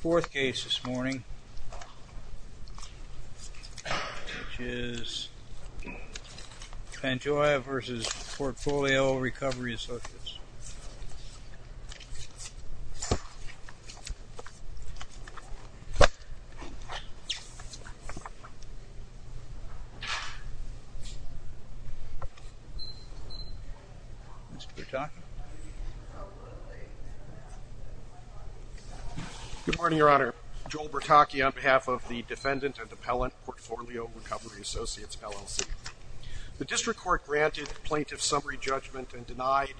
Fourth case this morning, which is Pantoja v. Portfolio Recovery Associates. Good morning, Your Honor. Joel Bertocchi on behalf of the Defendant and Appellant Portfolio Recovery Associates, LLC. The District Court granted plaintiff summary judgment and denied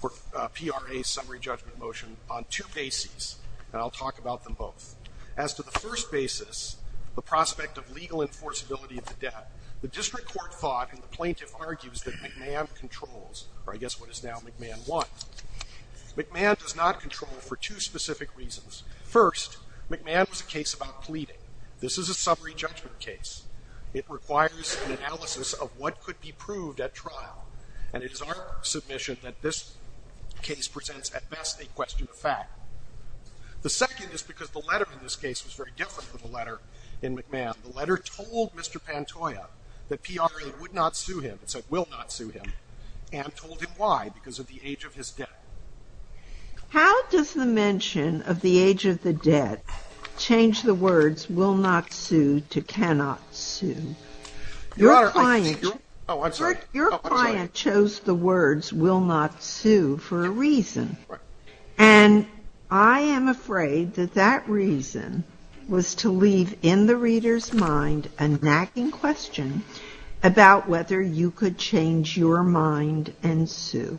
PRA summary judgment motion on two bases, and I'll talk about them both. As to the first basis, the prospect of legal enforceability of the debt, the District Court thought and the plaintiff argues that McMahon controls, or I guess what is now McMahon 1. McMahon does not control for two specific reasons. First, McMahon was a case about pleading. This is a summary judgment case. It requires an analysis of what could be proved at trial, and it is our submission that this case presents at best a question of fact. The second is because the letter in this case was very different from the letter in McMahon. The letter told Mr. Pantoja that PRA would not sue him, and told him why, because of the age of his debt. How does the mention of the age of the debt change the words will not sue to cannot sue? Your client chose the words will not sue for a reason, and I am afraid that that reason was to leave in the reader's mind a nagging question about whether you could change your mind and sue.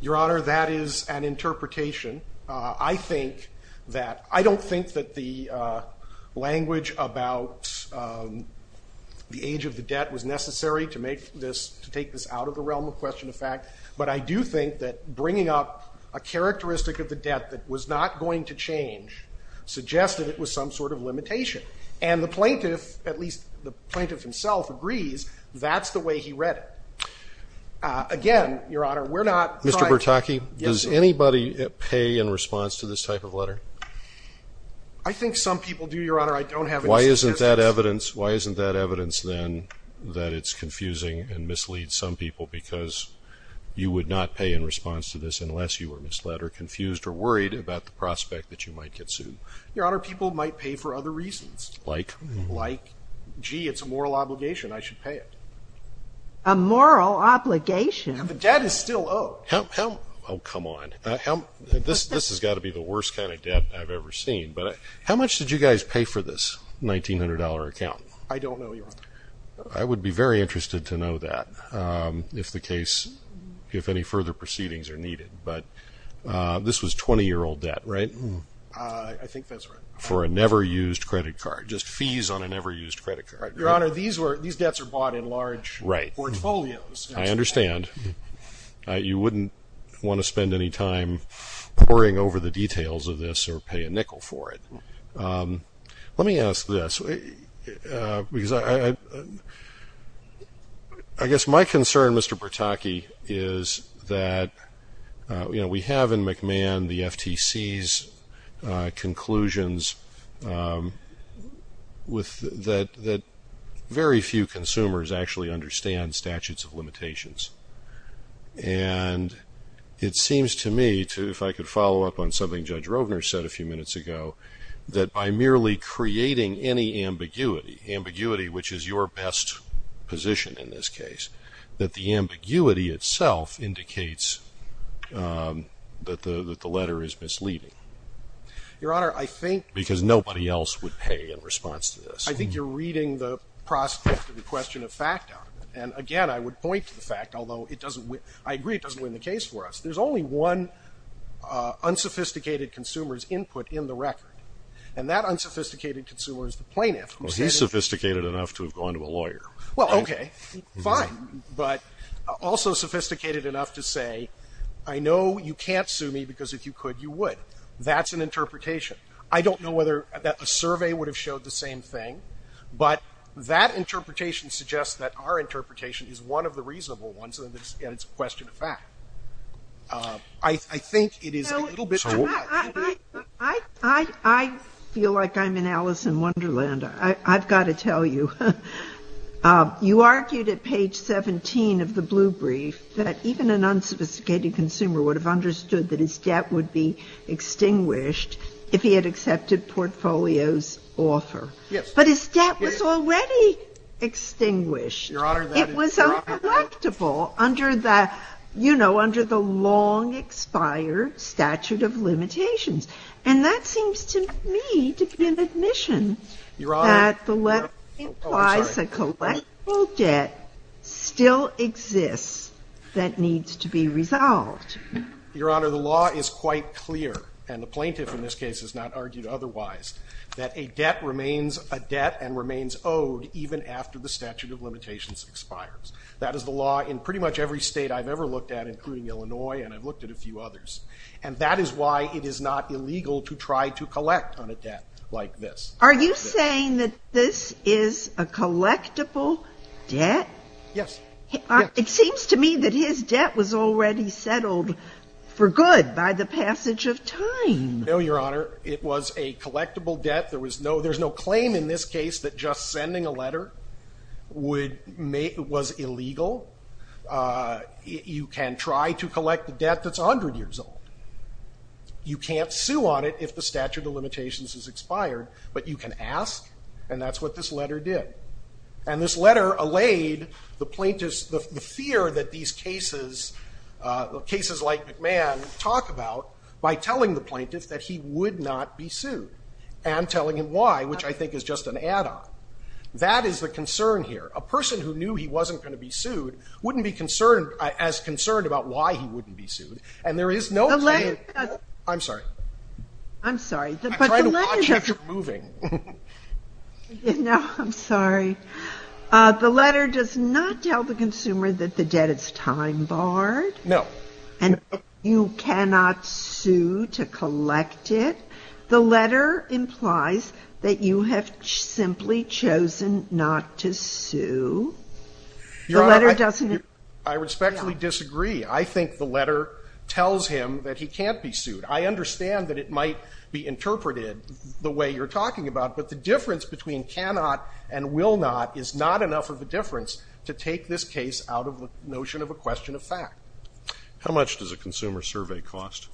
Your Honor, that is an interpretation. I think that, I don't think that the language about the age of the debt was necessary to make this, to take this out of the realm of question of fact, but I do think that bringing up a characteristic of the debt that was not going to change suggested it was some sort of limitation, and the plaintiff, at least the plaintiff himself, agrees that's the way he read it. Again, Your Honor, we're not. Mr. Bertocchi, does anybody pay in response to this type of letter? I think some people do, Your Honor. I don't have. Why isn't that evidence? Why isn't that evidence then that it's confusing and misleads some people because you would not pay in response to this unless you were misled or confused or worried about the prospect that you might get sued? Your Honor, people might pay for other reasons. Like? Like, gee, it's a moral obligation. I should pay it. A moral obligation? The debt is still owed. How, how, oh come on, how, this, this has got to be the worst kind of debt I've ever seen, but how much did you guys pay for this $1,900 account? I don't know, Your Honor. I would be very interested to know that if the case, if any further proceedings are needed, but this was 20-year-old debt, right? I think that's right. For a never-used credit card, just fees on a never-used credit card. Your Honor, these were, these debts are bought in large portfolios. I understand. You wouldn't want to spend any time poring over the details of this or pay a nickel for it. Let me ask this, because I, I guess my concern, Mr. Bertocchi, is that you know, we have in McMahon the FTC's conclusions with, that, that very few consumers actually understand statutes of limitations, and it seems to me to, if I could follow up on something Judge Rovner said a few minutes ago, that by merely creating any ambiguity, ambiguity which is your best position in this case, that the ambiguity itself indicates that the, that the letter is misleading. Your Honor, I think... Because nobody else would pay in response to this. I think you're reading the prospect of the question of fact out of it, and again, I would point to the fact, although it doesn't, I agree it doesn't win the case for us. There's only one unsophisticated consumer's input in the record, and that unsophisticated consumer is the plaintiff. Well, he's sophisticated enough to have gone to a lawyer. Well, okay, fine, but also sophisticated enough to say, I know you can't sue me, because if you could, you would. That's an interpretation. I don't know whether that a survey would have showed the same thing, but that interpretation suggests that our interpretation is one of the reasonable ones, and it's a question of fact. I think it is a little bit... I feel like I'm in Alice in Wonderland. I've got to tell you, you argued at page 17 of the blue brief that even an unsophisticated consumer would have understood that his debt would be extinguished if he had accepted Portfolio's offer, but his debt was already extinguished. It was uncollectible under the, you know, under the long-expired statute of limitations, and that seems to me to be an admission that the letter implies a collectible debt still exists that needs to be resolved. Your Honor, the law is quite clear, and the plaintiff in this case has not argued otherwise, that a debt remains a debt and remains owed even after the statute of limitations expires. That is the law in pretty much every state I've ever looked at, including Illinois, and I've looked at a few others, and that is why it is not illegal to try to collect on a debt like this. Are you saying that this is a collectible debt? Yes. It seems to me that his debt was already settled for good by the passage of time. No, Your Honor, it was a collectible debt. There was no, there's no claim in this case that just sending a letter would make, was illegal. You can try to collect a debt that's 100 years old. You can't sue on it if the statute of limitations has expired, but you can ask, and that's what this letter did. And this letter allayed the plaintiffs, the fear that these cases, cases like McMahon talk about, by telling the plaintiffs that he would not be sued, and telling him why, which I think is just an add-on. That is the concern here. A person who knew he wasn't going to be sued wouldn't be concerned, as concerned about why he wouldn't be sued, and there is no claim. I'm sorry. I'm sorry. I'm trying to watch if you're moving. No, I'm sorry. The letter does not tell the consumer that the debt is time barred. No. And you cannot sue to collect it. The letter implies that you have simply chosen not to sue. Your Honor, I respectfully disagree. I think the letter tells him that he can't be sued. I understand that it might be interpreted the way you're talking about, but the difference between cannot and will not is not enough of a difference to take this case out of the notion of a question of fact. How much does a consumer survey cost?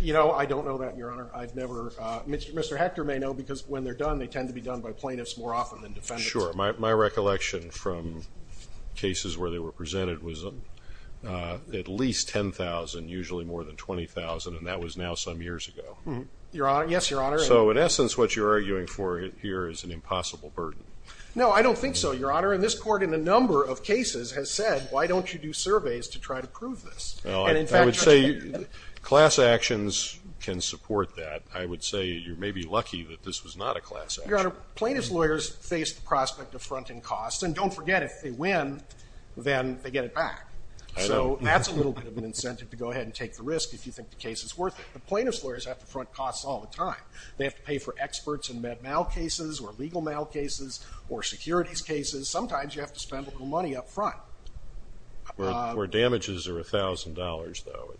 You know, I don't know that, Your Honor. I've never, Mr. Hector may know, because when they're done, they tend to be done by plaintiffs more often than defendants. Sure. My recollection from cases where they were presented was at least $10,000, usually more than $20,000, and that was now some years ago. Yes, Your Honor. So in essence, what you're arguing for here is an impossible burden. No, I don't think so, Your Honor, and this court in a number of cases has said, why don't you do surveys to try to prove this? No, I would say class actions can support that. I would say you're maybe lucky that this was not a class action. Your Honor, plaintiffs' lawyers face the prospect of fronting costs, and don't forget, if they win, then they get it back. So that's a little bit of an incentive to go ahead and take the risk if you think the case is worth it. But plaintiffs' lawyers have to front costs all the time. They have to pay for experts in med mal cases or legal mal cases or securities cases. Sometimes you have to spend a little money up front. Where damages are $1,000, though.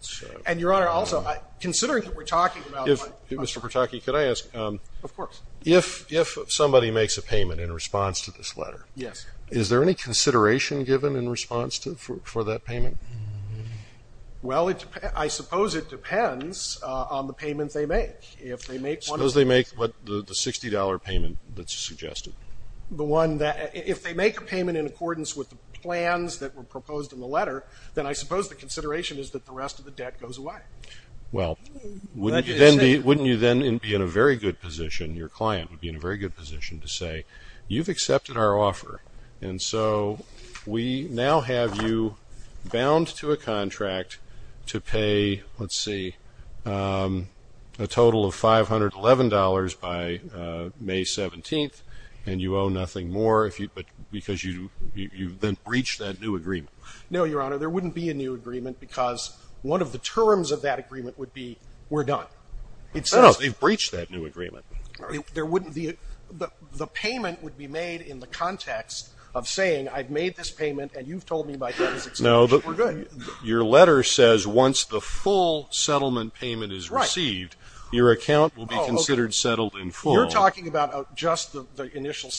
And Your Honor, also, considering that we're talking about... Mr. Pertocchi, could I ask? Of course. If somebody makes a payment in response to this letter, is there any consideration given in response for that payment? Well, I suppose it depends on the payment they make. Suppose they make the $60 payment that's plans that were proposed in the letter, then I suppose the consideration is that the rest of the debt goes away. Well, wouldn't you then be in a very good position, your client would be in a very good position to say, you've accepted our offer, and so we now have you bound to a contract to pay, let's see, a total of $511 by May 17th, and you owe nothing more because you breached that new agreement. No, Your Honor, there wouldn't be a new agreement because one of the terms of that agreement would be, we're done. No, no, they've breached that new agreement. The payment would be made in the context of saying, I've made this payment, and you've told me my debt is accepted, we're good. Your letter says once the full settlement payment is received, your account will be considered settled in full. You're talking about just the initial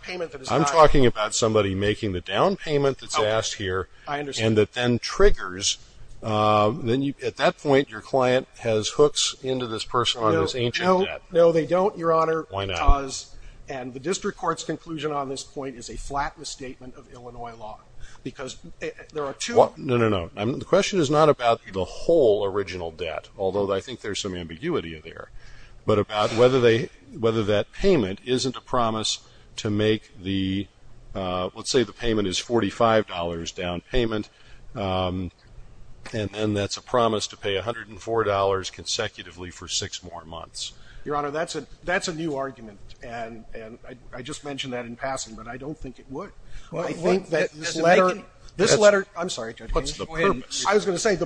payment. I'm talking about somebody making the down payment that's asked here, and that then triggers, at that point your client has hooks into this person on this ancient debt. No, they don't, Your Honor, because, and the District Court's conclusion on this point is a flat misstatement of Illinois law, because there are two... No, no, no, the question is not about the whole original debt, although I think there's some ambiguity there, but about whether that payment isn't a promise to make the, let's say the payment is $45 down payment, and then that's a promise to pay $104 consecutively for six more months. Your Honor, that's a new argument, and I just mentioned that in passing, but I don't think it would. I think that this letter... I'm sorry, Judge, go ahead. I was going to say,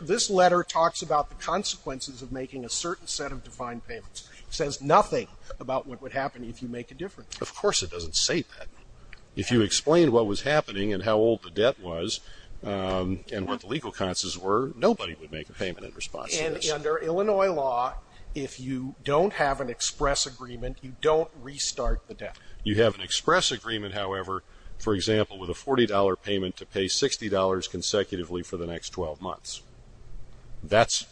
this letter talks about the consequences of making a certain set of defined payments. It says nothing about what would happen if you make a difference. Of course it doesn't say that. If you explained what was happening, and how old the debt was, and what the legal consequences were, nobody would make a payment in response to this. Under Illinois law, if you don't have an express agreement, you don't restart the debt. You have an express agreement, however, for example, with a $40 payment to pay $60 consecutively for the next 12 months. That's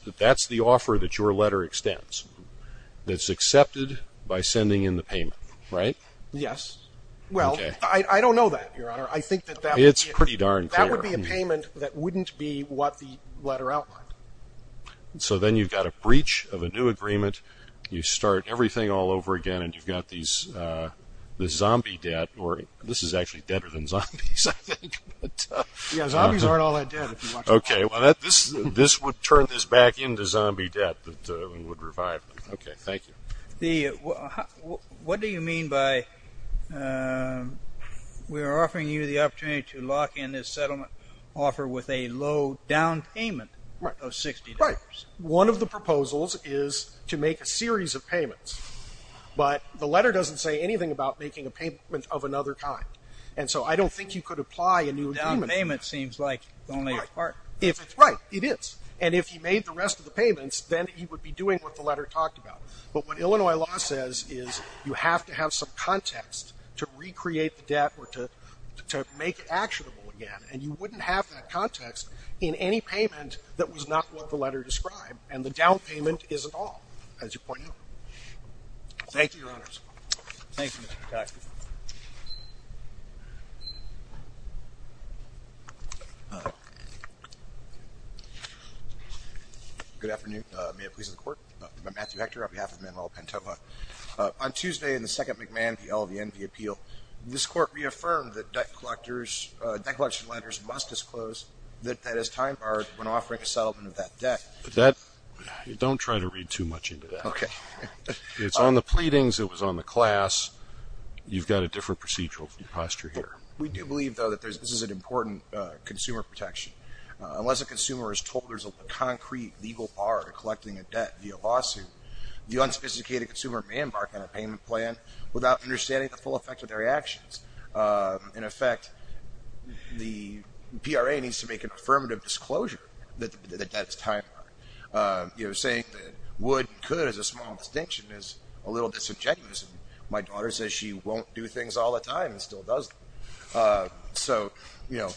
the offer that your letter extends. It's accepted by sending in the payment, right? Yes. Well, I don't know that, Your Honor. I think that that... It's pretty darn clear. That would be a payment that wouldn't be what the letter outlined. So then you've got a breach of a new agreement, you start everything all over again, and you've got this zombie debt, or this is actually deader than zombies, I think. Yeah, zombies aren't all that dead, if you watch... Okay. Well, this would turn this back into zombie debt that would revive them. Okay. Thank you. What do you mean by, we're offering you the opportunity to lock in this settlement offer with a low down payment of $60? Right. One of the proposals is to make a series of payments, but the letter doesn't say anything about making a payment of another kind. And so I don't think you could apply a new agreement. Down payment seems like only a part. If it's right, it is. And if he made the rest of the payments, then he would be doing what the letter talked about. But what Illinois law says is you have to have some context to recreate the debt, or to make it actionable again, and you wouldn't have that context in any payment that was not what the letter described. And the down payment isn't all, as you pointed out. Thank you, Your Honors. Thank you, Mr. Detective. All right. Good afternoon. May it please the court. I'm Matthew Hector on behalf of Manuel Pantoja. On Tuesday in the second McMahon v. LVN v. Appeal, this court reaffirmed that debt collection letters must disclose that that is time barred when offering a settlement of that debt. But that, don't try to read too much into that. Okay. It's on the pleadings. It was on the class. You've got a different procedural posture here. We do believe, though, that this is an important consumer protection. Unless a consumer is told there's a concrete legal bar to collecting a debt via lawsuit, the unsophisticated consumer may embark on a payment plan without understanding the full effect of their actions. In effect, the PRA needs to make an affirmative disclosure that the debt is time barred. Saying that would and could is a small distinction is a little disingenuous. My daughter says she won't do things all the time and still does. So, you know,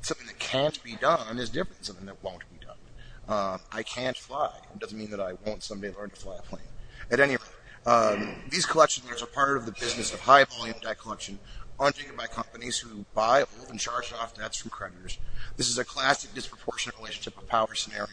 something that can't be done is different than something that won't be done. I can't fly. It doesn't mean that I won't someday learn to fly a plane. At any rate, these collection letters are part of the business of high volume debt collection undertaken by companies who buy old and charged off debts from creditors. This is a classic disproportionate relationship of power scenario.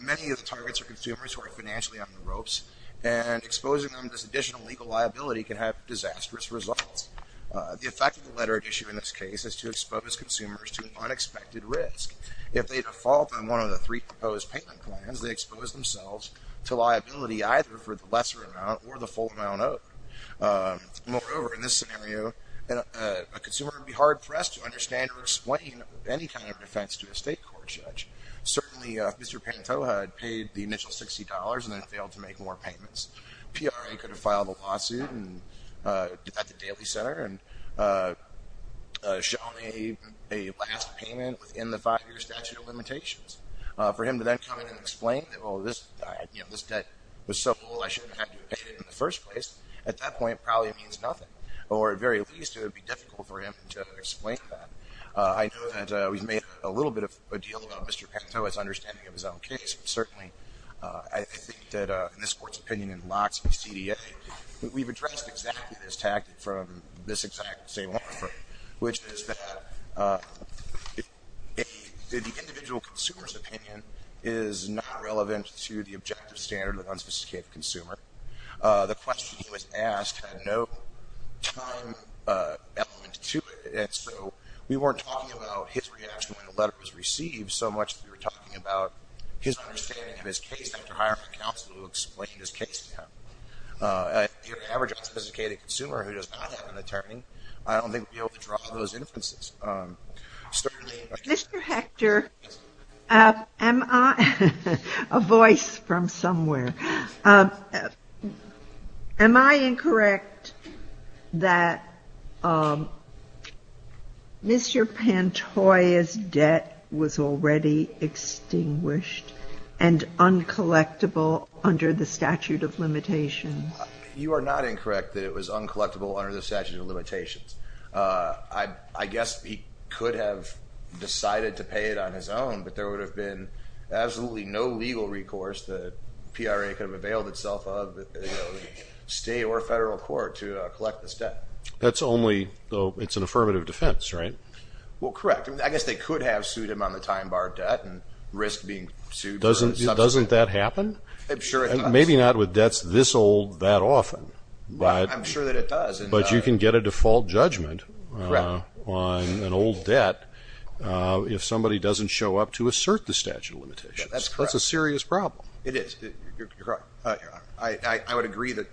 Many of the targets are consumers who are financially on the ropes and exposing them to this additional legal liability can have disastrous results. The effect of the letter at issue in this case is to expose consumers to unexpected risk. If they default on one of the three proposed payment plans, they expose themselves to liability either for the lesser amount or the full amount owed. Moreover, in this scenario, a consumer would be hard pressed to understand or explain any kind of defense to a state court judge. Certainly, Mr. Pantoja had paid the initial $60 and then failed to make more payments. PRA could have filed a lawsuit at the Daily Center and shown a last payment within the five-year statute of limitations for him to then come in and explain that, well, this, you know, this debt was so low, I shouldn't have had to pay it in the first place. At that point, probably means nothing or at very least, it would be difficult for him to explain that. I know that we've made a little bit of a deal about Mr. Pantoja's understanding of his own case. Certainly, I think that in this court's opinion and lots of the CDA, we've addressed exactly this tactic from this exact same offer, which is that the individual consumer's opinion is not relevant to the objective standard of unspecified consumer. The question he was asked had no time element to it, and so we weren't talking about his reaction when the letter was received so much as we were talking about his understanding of his case after hiring a counsel who explained his case to him. If you're an average unspecified consumer who does not have an attorney, I don't think we'd be able to draw those inferences. Mr. Hector, a voice from somewhere. Am I incorrect that Mr. Pantoja's debt was already extinguished and uncollectible under the statute of limitations? You are not incorrect that it was uncollectible under the statute of limitations. I guess he could have decided to pay it on his own, but there would have been absolutely no legal recourse that PRA could have availed itself of, state or federal court, to collect this debt. That's only, though, it's an affirmative defense, right? Well, correct. I guess they could have sued him on the time bar debt and risked being sued. Doesn't that happen? I'm sure it does. Maybe not with debts this old that often. I'm sure that it does. But you can get a default judgment on an old debt if somebody doesn't show up to assert the statute of limitations. That's correct. That's a serious problem. It is. I would agree that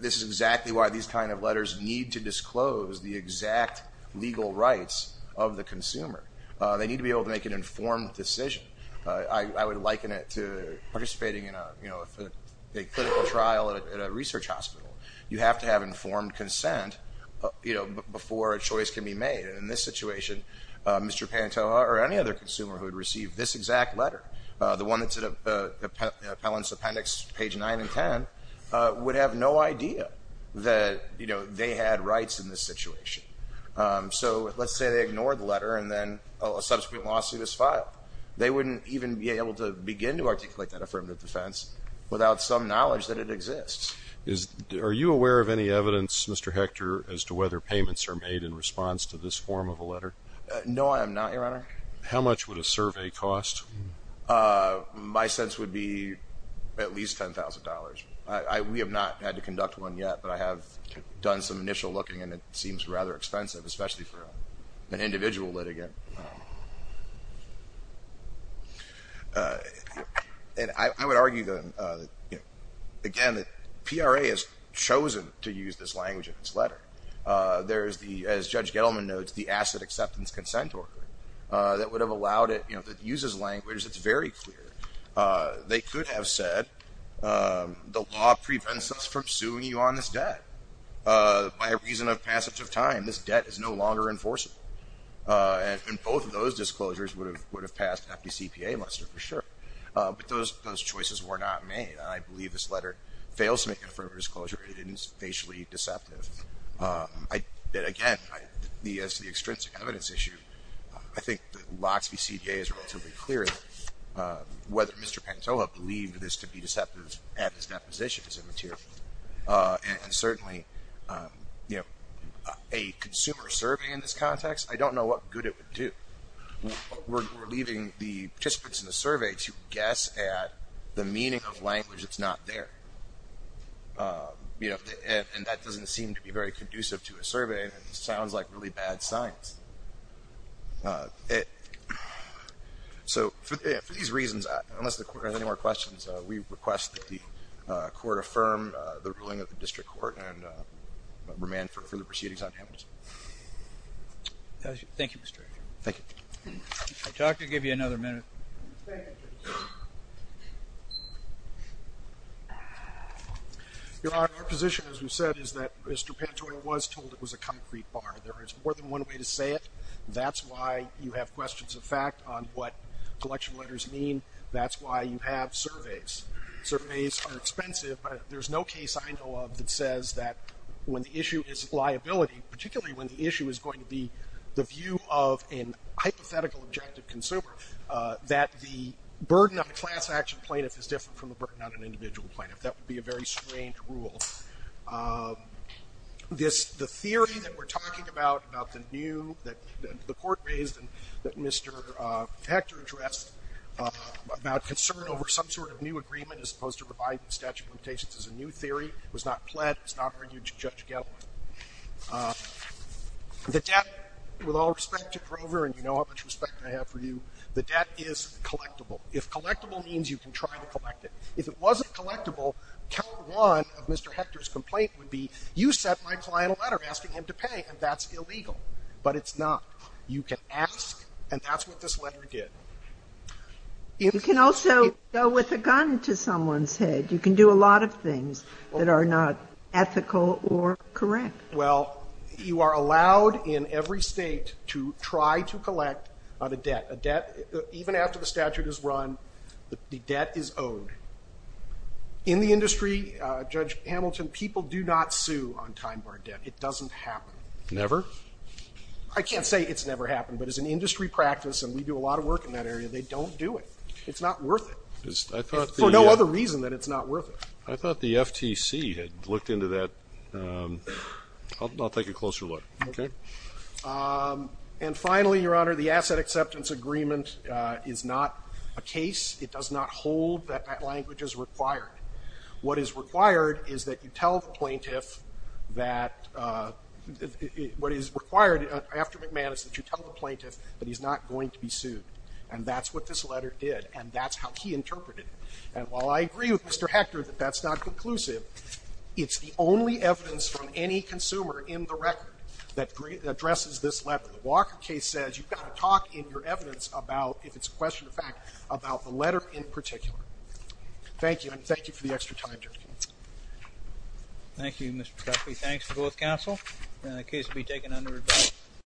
this is exactly why these kind of letters need to disclose the exact legal rights of the consumer. They need to be able to make an informed decision. I would liken it to participating in a clinical trial at a research hospital. You have to have informed consent before a choice can be made. And in this situation, Mr. Pantoja or any other consumer who had received this exact letter, the one that's in the appellant's appendix, page 9 and 10, would have no idea that they had rights in this situation. So let's say they ignored the letter and then a subsequent lawsuit is filed. They wouldn't even be able to begin to articulate that affirmative defense without some knowledge that it exists. Are you aware of any evidence, Mr. Hector, as to whether payments are made in response to this form of a letter? No, I am not, Your Honor. How much would a survey cost? My sense would be at least $10,000. We have not had to conduct one yet, but I have done some initial looking and it seems rather expensive, especially for an individual litigant. And I would argue, again, that PRA has chosen to use this language in this letter. There is the, as Judge Gettleman notes, the asset acceptance consent order that would have allowed it, you know, that uses language that's very clear. They could have said, the law prevents us from suing you on this debt. By reason of passage of time, this debt is no longer enforceable. And both of those disclosures would have passed an FDCPA list for sure. But those choices were not made. I believe this letter fails to make an affirmative disclosure. It is facially deceptive. Again, as to the extrinsic evidence issue, I think that locks BCDA is relatively clear whether Mr. Pantoja believed this to be deceptive at his deposition is immaterial. And certainly, you know, a consumer survey in this context, I don't know what good it would do. We're leaving the participants in the survey to guess at the meaning of language that's not there. You know, and that doesn't seem to be very conducive to a survey and sounds like really bad science. So for these reasons, unless the court has any more questions, we request that the court affirm the ruling of the district court and remand for further proceedings on damages. Thank you, Mr. Thank you. I talked to give you another minute. Your Honor, our position, as we said, is that Mr. Pantoja was told it was a concrete bar. There is more than one way to say it. That's why you have questions of fact on what collection letters mean. That's why you have surveys. Surveys are expensive. There's no case I know of that says that when the issue is liability, particularly when the issue is going to be the view of a hypothetical objective consumer, that the burden of a class action plaintiff is different from the burden on an individual plaintiff. That would be a very strange rule. The theory that we're talking about, about the new, that the court raised and that Mr. Hector addressed, about concern over some sort of new agreement as opposed to providing the statute of limitations as a new theory, was not pled. It's not argued to Judge Gellar. The debt, with all respect to Grover, and you know how much respect I have for you, the debt is collectible. If collectible means you can try to collect it. If it wasn't collectible, count one of Mr. Hector's complaint would be, you sent my client a letter asking him to pay, and that's illegal. But it's not. You can ask, and that's what this letter did. You can also go with a gun to someone's head. You can do a lot of things that are not ethical or correct. Well, you are allowed in every State to try to collect a debt. A debt, even after the statute is run, the debt is owed. In the industry, Judge Hamilton, people do not sue on time-bar debt. It doesn't happen. Never? I can't say it's never happened. But as an industry practice, and we do a lot of work in that area, they don't do it. It's not worth it. For no other reason that it's not worth it. I thought the FTC had looked into that. I'll take a closer look. OK. And finally, Your Honor, the asset acceptance agreement is not a case. It does not hold that that language is required. What is required is that you tell the plaintiff that what is required after McManus is that you tell the plaintiff that he's not going to be sued. And that's what this letter did. And that's how he interpreted it. And while I agree with Mr. Hector that that's not conclusive, it's the only evidence from any consumer in the record that addresses this letter. The Walker case says you've got to talk in your evidence about, if it's a question of fact, about the letter in particular. Thank you. Thank you for the extra time, Judge. Thank you, Mr. Treffy. Thanks to both counsel. And the case will be taken under review.